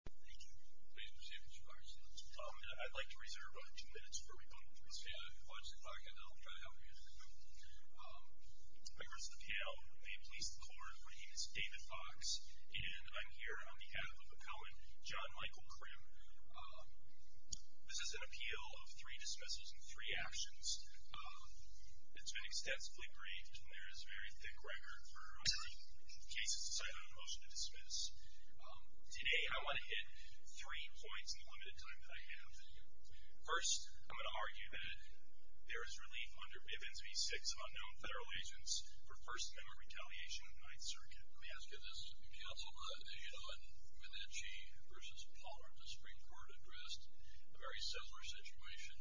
I'd like to reserve about two minutes for a rebuttal to his family. If you watch the clock, I know I'm trying to help you. My name is David Fox. And I'm here on behalf of a poet, John Michael Crim. This is an appeal of three dismissals and three actions. It's been extensively briefed, and there is very thick record for cases decided on a motion to dismiss. Today, I want to hit three points in the limited time that I have for you. First, I'm going to argue that there is relief under Bivens v. Six of unknown federal agents for First Amendment retaliation in the Ninth Circuit. Let me ask you this. Councilman Alan Minnici v. Pollard of the Supreme Court addressed a very similar situation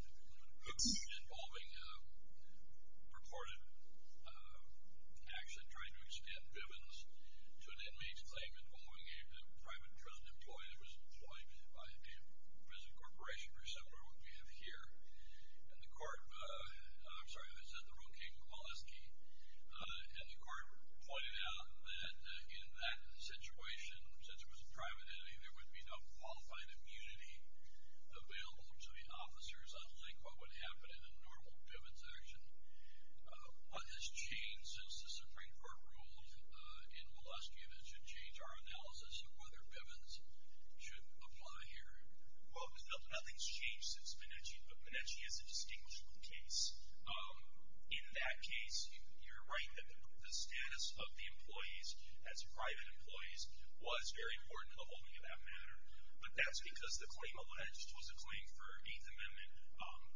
involving purported action trying to extend Bivens to an inmate's claim involving a private drone employee that was employed by a prison corporation or something like what we have here. And the court pointed out that in that situation, since it was a private entity, there would be no qualified immunity available to the officers. I'd like what would happen in a normal Bivens action. What has changed since the Supreme Court ruled in Moleskine? It should change our analysis of whether Bivens should apply here. Well, nothing's changed since Minnici, but Minnici is a distinguishable case. In that case, you're right that the status of the employees as private employees was very important in the holding of that matter. But that's because the claim alleged was a claim for Eighth Amendment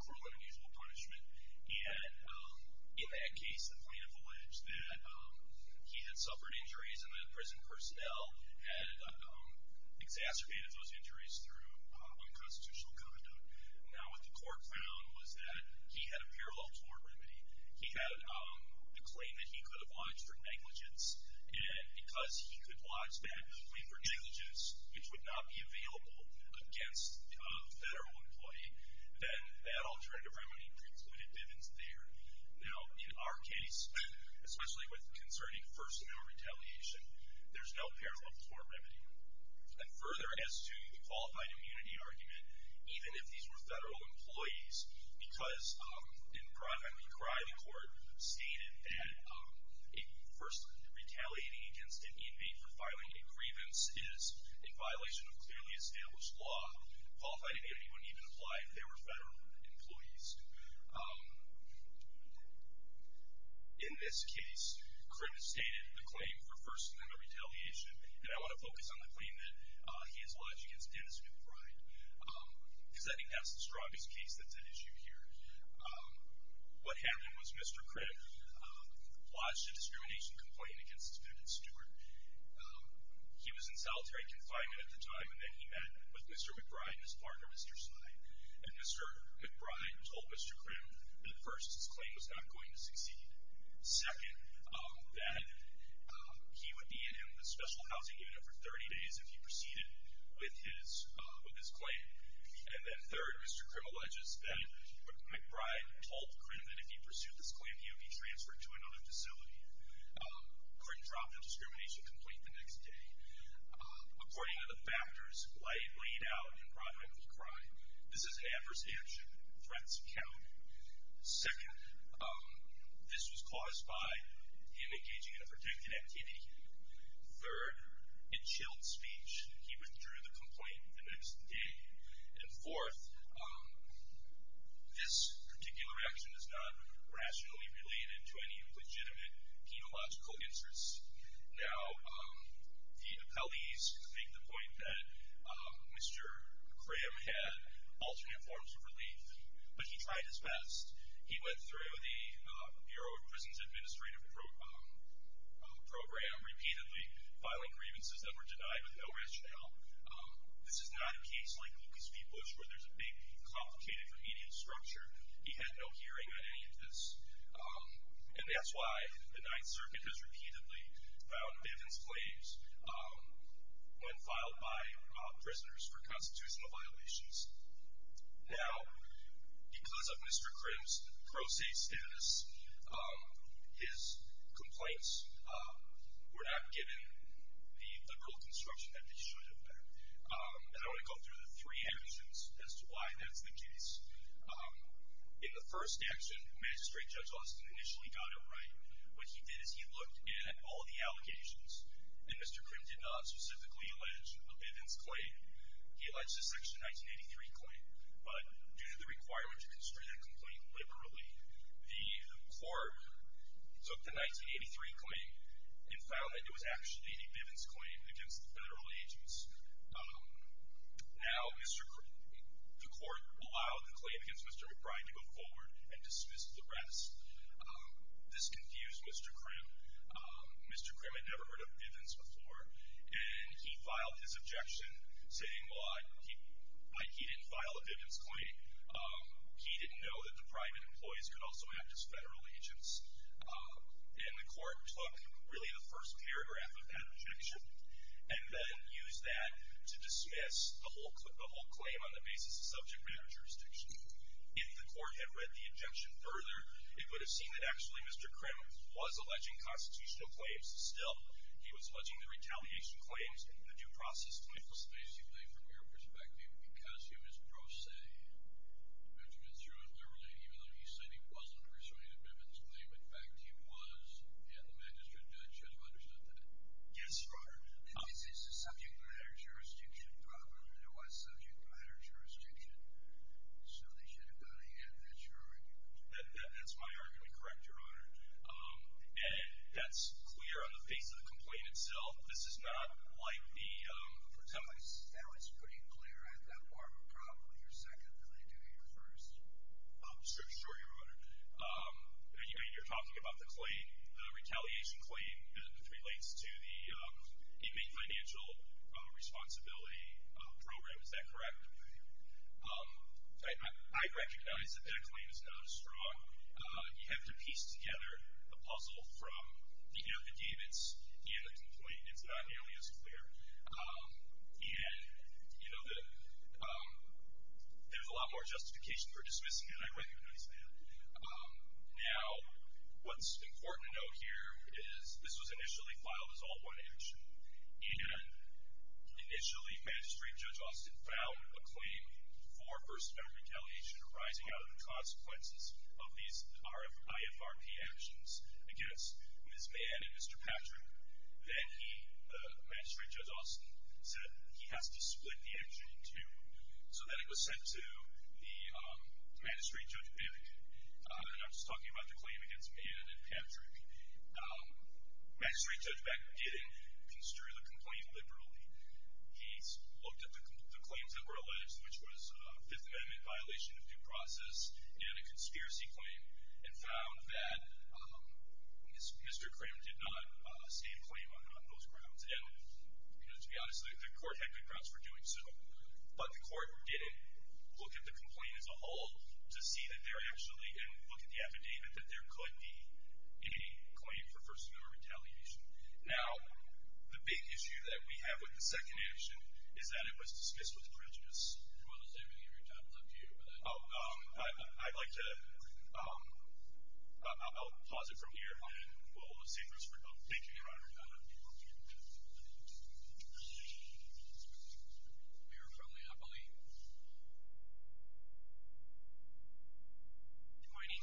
cruel and unusual punishment. And in that case, the plaintiff alleged that he had suffered injuries, and that prison personnel had exacerbated those injuries through unconstitutional conduct. Now, what the court found was that he had a parallel tort remedy. He had a claim that he could have lodged for negligence, and because he could lodge that claim for negligence, which would not be available against a federal employee, then that alternative remedy precluded Bivens there. Now, in our case, especially concerning first and no retaliation, there's no parallel tort remedy. And further, as to the qualified immunity argument, even if these were federal employees, because in Criley Court stated that first, retaliating against an inmate for filing a grievance is a violation of clearly established law. Qualified immunity wouldn't even apply if they were federal employees. In this case, Cripp has stated the claim for first and no retaliation, and I want to focus on the claim that he has lodged against Dennis McBride, because I think that's the strongest case that's at issue here. What happened was Mr. Cripp lodged a discrimination complaint against his defendant, Stewart. He was in solitary confinement at the time, and then he met with Mr. McBride, his partner, Mr. Stein. And Mr. McBride told Mr. Cripp that first, his claim was not going to succeed. Second, that he would be in the special housing unit for 30 days if he proceeded with his claim. And then third, Mr. Cripp alleges that McBride told Cripp that if he pursued this claim, he would be transferred to another facility. Cripp dropped the discrimination complaint the next day. According to the factors laid out in McBride's crime, this is an adverse action. Threats count. Second, this was caused by him engaging in a protected activity. Third, a chilled speech. He withdrew the complaint the next day. And fourth, this particular action is not rationally related to any legitimate penological inserts. Now, the appellees make the point that Mr. Cram had alternate forms of relief, but he tried his best. He went through the Bureau of Prisons Administrative Program repeatedly, filing grievances that were denied with no rationale. This is not a case like Lucas v. Bush, where there's a big, complicated remedial structure. He had no hearing on any of this. And that's why the Ninth Circuit has repeatedly found evidence claims when filed by prisoners for constitutional violations. Now, because of Mr. Crimp's pro se status, his complaints were not given the federal construction that they should have been. And I want to go through the three actions as to why that's the case. In the first action, Magistrate Judge Austin initially got it right. What he did is he looked at all the allocations, and Mr. Crimp did not specifically allege a Bivens claim. He alleged a Section 1983 claim. But due to the requirement to constrain a complaint liberally, the court took the 1983 claim and found that it was actually a Bivens claim against the federal agents. Now, the court allowed the claim against Mr. McBride to go forward and dismissed the rest. This confused Mr. Crimp. Mr. Crimp had never heard of Bivens before, and he filed his objection saying, well, he didn't file a Bivens claim. He didn't know that the private employees could also act as federal agents. And the court took really the first paragraph of that objection and then used that to dismiss the whole claim on the basis of subject matter jurisdiction. If the court had read the objection further, it would have seen that actually Mr. Crimp was alleging constitutional claims. Still, he was alleging the retaliation claims, the due process claims. So, basically, from your perspective, because he was pro se, which means true and liberally, even though he said he wasn't persuading a Bivens claim, in fact, he was, and the magistrate judge should have understood that. Yes, Your Honor. This is a subject matter jurisdiction problem. It was subject matter jurisdiction. So, they should have gotten ahead of that jury. That's my argument. Correct, Your Honor. And that's clear on the face of the complaint itself. This is not like the- That was pretty clear at that part, but probably you're second than they do here first. Sure, Your Honor. You're talking about the claim, the retaliation claim, which relates to the Inmate Financial Responsibility Program. Is that correct? I recognize that that claim is not as strong. You have to piece together the puzzle from the Bivens and the complaint and it's not nearly as clear. And, you know, there's a lot more justification for dismissing it. I recognize that. Now, what's important to note here is this was initially filed as all one action, and initially Magistrate Judge Austin filed a claim for first-member retaliation arising out of the consequences of these IFRP actions against Ms. Mann and Mr. Patrick. Then he, Magistrate Judge Austin, said he has to split the action in two. So then it was sent to the Magistrate Judge Beck. And I'm just talking about the claim against Mann and Patrick. Magistrate Judge Beck didn't construe the complaint liberally. He looked at the claims that were alleged, which was a Fifth Amendment violation of due process and a conspiracy claim, and found that Mr. Cram did not stand claim on those grounds. And, you know, to be honest, the court had good grounds for doing so. But the court didn't look at the complaint as a whole to see that there actually, and look at the affidavit, that there could be a claim for first-member retaliation. Now, the big issue that we have with the second action is that it was dismissed with prejudice. Oh, I'd like to, I'll pause it from here, and we'll save this for later. Good morning.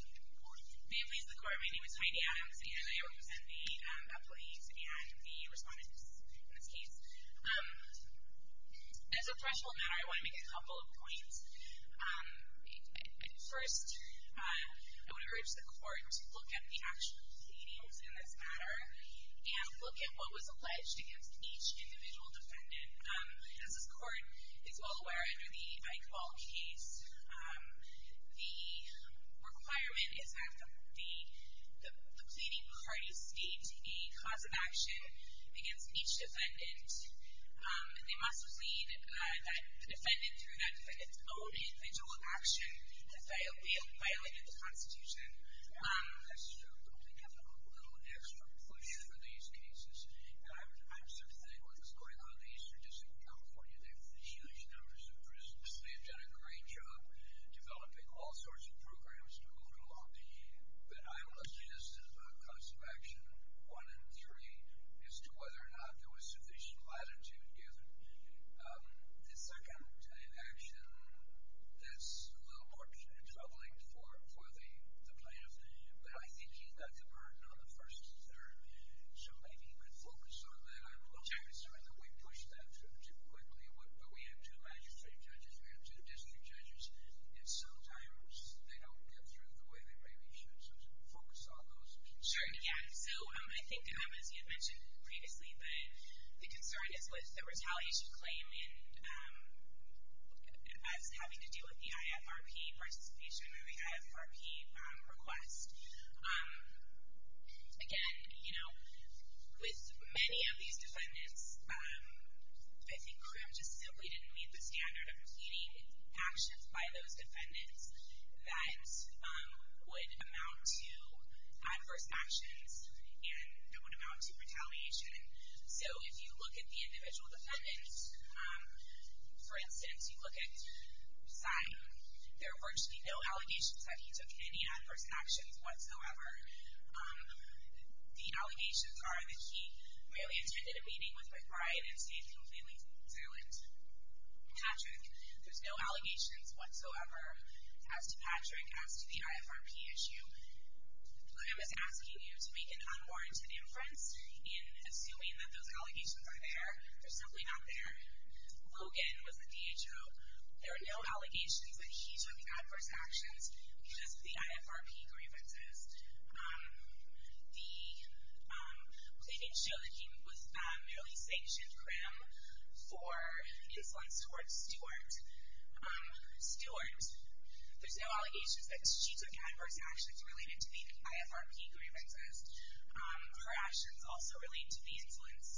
May it please the Court, my name is Heidi Adams, and I represent the employees and the respondents in this case. As a threshold matter, I want to make a couple of points. First, I want to urge the Court to look at the actual pleadings in this matter, and look at what was alleged against each individual defendant. As this Court is well aware, under the Eichwald case, the requirement is that the pleading parties state a cause of action against each defendant, and they must believe that the defendant, through that defendant's own individual action, has violated the Constitution. That's true. I don't think there's a whole lot of extra inclusion for these cases. I'm sympathetic to what was going on in the Eastern District of California. They've done a great job developing all sorts of programs to move it along. But I will suggest a cause of action, one in theory, as to whether or not there was sufficient latitude given. The second action that's a little more troubling for the plaintiff, but I think he met the burden on the first and third, so maybe he could focus on that. I'm concerned that we push that too quickly. We have two magistrate judges, we have two district judges, and sometimes they don't get through the way they maybe should. So focus on those concerns. Sure, yeah. So I think, as you had mentioned previously, the concern is with the retaliation claim and us having to deal with the IFRP participation, or the IFRP request. Again, you know, with many of these defendants, I think CRIM just simply didn't meet the standard of pleading actions by those defendants that would amount to adverse actions and that would amount to retaliation. So if you look at the individual defendants, for instance, you look at Simon, there were virtually no allegations that he took any adverse actions whatsoever. The allegations are that he merely attended a meeting with my client and stayed completely concerned. Patrick, there's no allegations whatsoever as to Patrick, as to the IFRP issue. Liam is asking you to make an unwarranted inference in assuming that those allegations are there. They're simply not there. Logan was the DHO. There are no allegations that he took adverse actions because of the IFRP grievances. They did show that he was merely sanctioned CRIM for insolence towards Stuart. Stuart, there's no allegations that she took adverse actions related to the IFRP grievances. Her actions also relate to the insolence.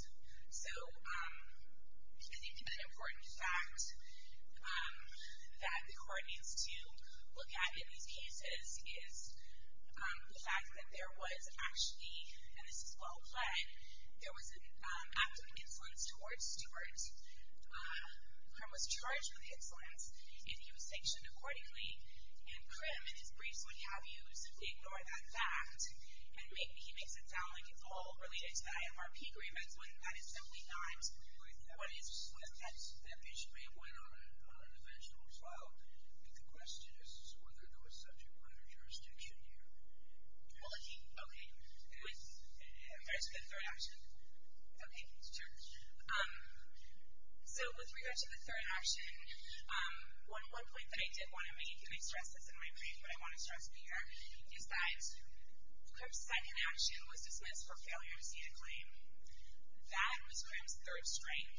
So I think an important fact that the court needs to look at in these cases is the fact that there was actually, and this is well-plaid, there was an act of insolence towards Stuart. CRIM was charged with insolence if he was sanctioned accordingly, and CRIM in his briefs would have you simply ignore that fact and he makes it sound like it's all related to the IFRP grievance when that is simply not. What is that? That issue may have went on in the financial trial, but the question is whether there was subject matter jurisdiction here. Okay. Let's go to the third option. Okay, sure. So with regard to the third option, one point that I did want to make, and I stress this in my brief, but I want to stress it here, is that CRIM's second action was dismissed for failure of C to claim. That was CRIM's third strike.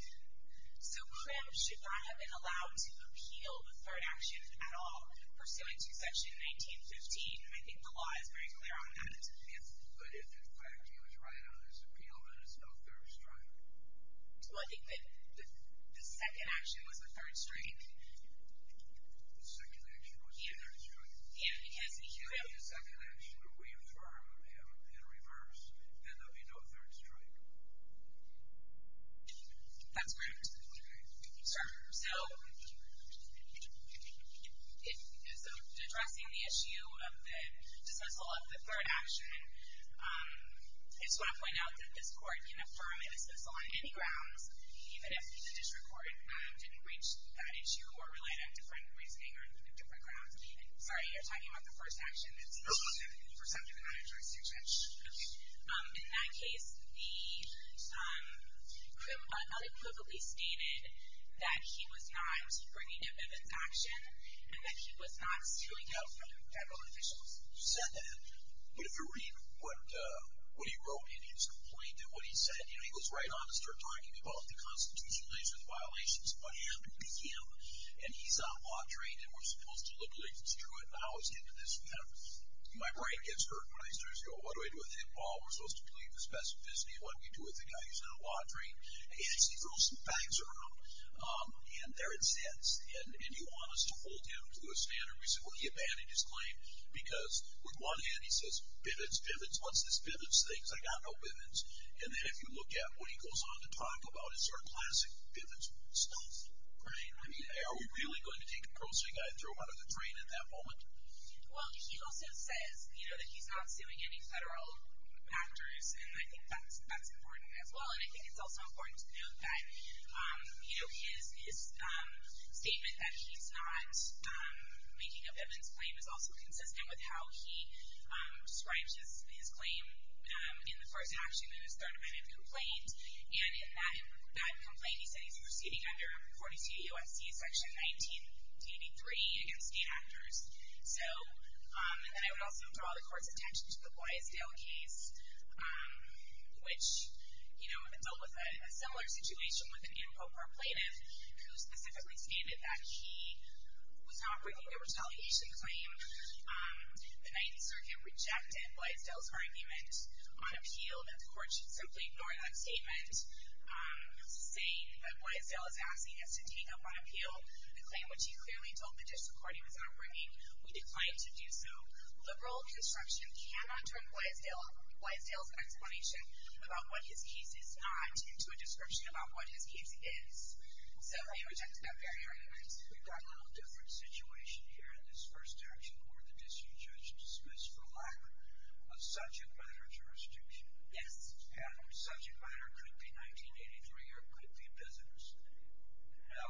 So CRIM should not have been allowed to appeal the third action at all, pursuant to Section 1915, and I think the law is very clear on that. Yes, but if that third action was right on his appeal, then it's no fair strike. Well, I think that the second action was the third strike. The second action was the third strike. If his appeal and the second action were reaffirmed in reverse, then there would be no third strike. That's correct. So addressing the issue of the dismissal of the third action, I just want to point out that this Court can affirm a dismissal on any grounds, even if the district court didn't reach that issue or relate a different reasoning or different grounds. Sorry, you're talking about the first action. No, I'm not. You were talking about the first action. In that case, the CRIM unequivocally stated that he was not bringing up evidence of action and that he was not suing out federal officials. You said that. But if you read what he wrote in his complaint and what he said, he goes right on to start talking about the Constitution relates with violations. What happened to him? And he's on a lot of train, and we're supposed to look like it's true, and how it's getting to this point. My brain gets hurt when I start to say, oh, what do I do with him? Well, we're supposed to believe the specificity of what we do with the guy who's on a lot of train. And he throws some facts around, and they're incensed. And you want us to hold him to a standard. We said, well, he abandoned his claim because with one hand he says, pivots, pivots, what's this pivots thing? Because I got no pivots. And then if you look at what he goes on to talk about, it's sort of classic pivots stuff. Right? I mean, are we really going to take a grocery guy and throw him out of the train at that moment? Well, he also says, you know, that he's not suing any federal actors, and I think that's important as well. And I think it's also important to note that, you know, his statement that he's not making a pivots claim is also consistent with how he strives his claim in the first action of his third amendment complaint. And in that complaint, he said he's proceeding under 42 U.S.C. section 19, duty three, against the actors. So, and then I would also draw the court's attention to the Blaisdell case, which, you know, dealt with a similar situation with an info proclative, who specifically stated that he was not bringing a retaliation claim. The Ninth Circuit rejected Blaisdell's argument on appeal, and the court should simply ignore that statement, saying that Blaisdell is asking us to take up on appeal the claim, which he clearly told the district court he was not bringing. We declined to do so. Liberal construction cannot turn Blaisdell's explanation about what his case is not into a description about what his case is. So, I reject that very argument. We've got a little different situation here in this first action court. The district judge dismissed the lack of subject matter jurisdiction. Yes. And subject matter could be 1983 or could be a visitor's. Now,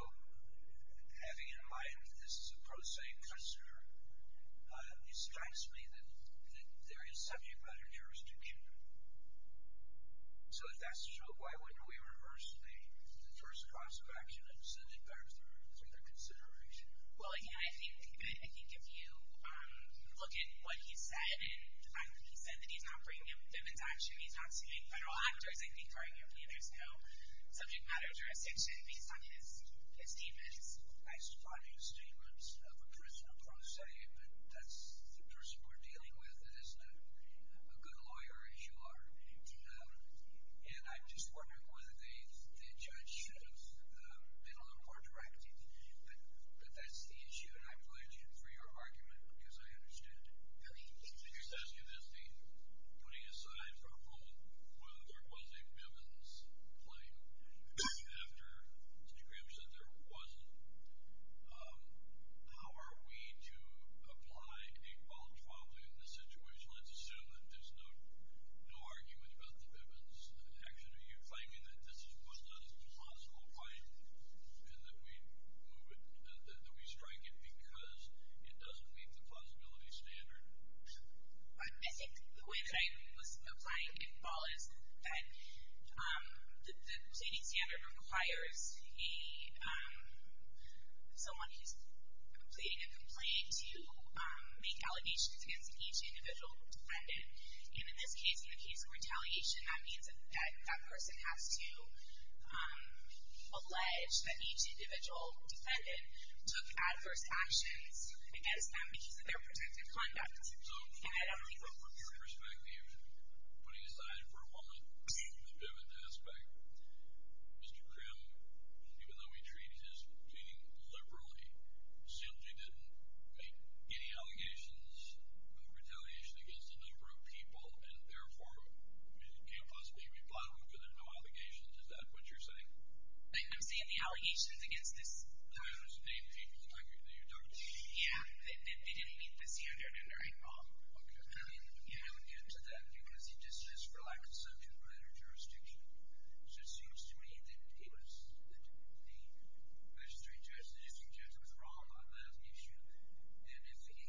having in mind that this is a pro se customer, it strikes me that there is subject matter jurisdiction. So, if that's true, why wouldn't we reverse the first cost of action and send it back through the consideration? Well, yeah, I think if you look at what he said, and he said that he's not bringing a women's action, he's not suing federal actors, I think arguably there's no subject matter jurisdiction based on his defense. I just brought you a statement of a person of pro se, but that's the person we're dealing with, isn't it? A good lawyer, as you are. And I'm just wondering whether the judge should have been a little more directive. But that's the issue, and I'm glad you can free your argument, because I understand it. Let me just ask you this thing. Putting aside for a moment whether there was a women's claim, after Mr. Graham said there wasn't, how are we to apply a qualifiable in this situation? Let's assume that there's no argument about the women's action. Are you claiming that this was not a possible claim and that we strike it because it doesn't meet the plausibility standard? I think the way that I was applying it, Paul, is that the plaiting standard requires someone who's completing a complaint to make allegations against each individual defendant. And in this case, in the case of retaliation, that means that that person has to allege that each individual defendant took adverse actions against them because of their protective conduct. And I don't think we're familiar with that. So, from your perspective, putting aside for a moment the pivot aspect, Mr. Graham, even though he treated his plaiting liberally, simply didn't make any allegations of retaliation against a number of people and therefore can't possibly reply to them because there's no allegations. Is that what you're saying? I'm saying the allegations against this group. Those eight people that you talked to? Yeah. They didn't meet the standard. Okay. I would add to that because he just relaxed subject matter jurisdiction. So it seems to me that it was the magistrate judge, the district judge, was wrong on that issue. And if he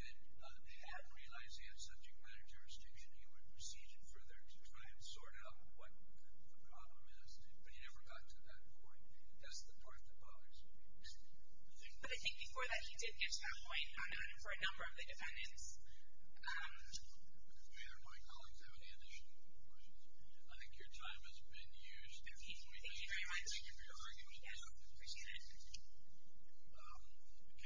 hadn't realized the subject matter jurisdiction, he would proceed it further to try and sort out what the problem is. But he never got to that point. That's the part that bothers me. But I think before that he did get to that point for a number of the defendants. Do any of my colleagues have any additional questions? I think your time has been used. Thank you very much. I appreciate it.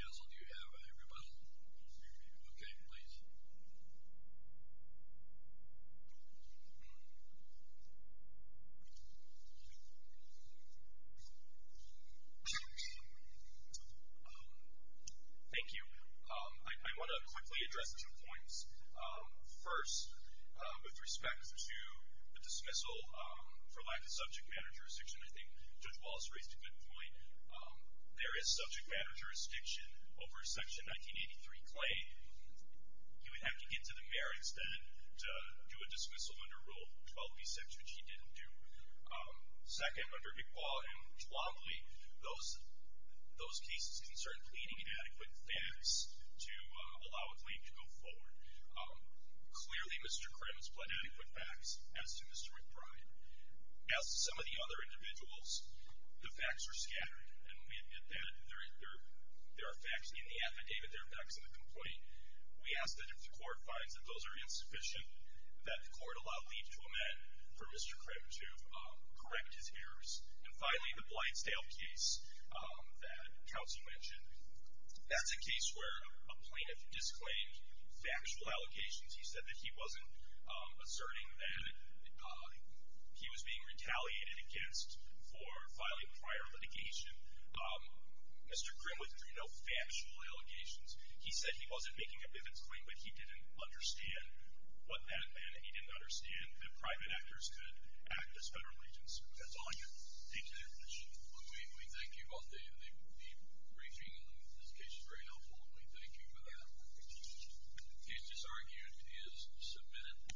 Counsel, do you have a rebuttal? Okay. Please. Thank you. I want to quickly address two points. First, with respect to the dismissal for lack of subject matter jurisdiction, I think Judge Wallace raised a good point. There is subject matter jurisdiction over Section 1983 Clay. He would have to get to the merits then to do a dismissal under Rule 12B6, which he didn't do. Second, under McQuaw and Lomley, those cases concerned pleading adequate facts to allow a claim to go forward. Clearly, Mr. Crims pleaded adequate facts, as did Mr. McBride. As to some of the other individuals, the facts are scattered. And there are facts in the affidavit, there are facts in the complaint. We ask that if the court finds that those are insufficient, that the court allow leave to amend for Mr. Crim to correct his errors. And finally, the Blightsdale case that Counsel mentioned, that's a case where a plaintiff disclaimed factual allocations. He said that he wasn't asserting that he was being retaliated against for filing prior litigation. Mr. Crim withdrew no factual allegations. He said he wasn't making a vivid claim, but he didn't understand what that meant, and he didn't understand that private actors could act as federal agents. That's all I have to say to that question. Well, we thank you both. The briefing on this case is very helpful, and we thank you for that. The case disargued is submitted.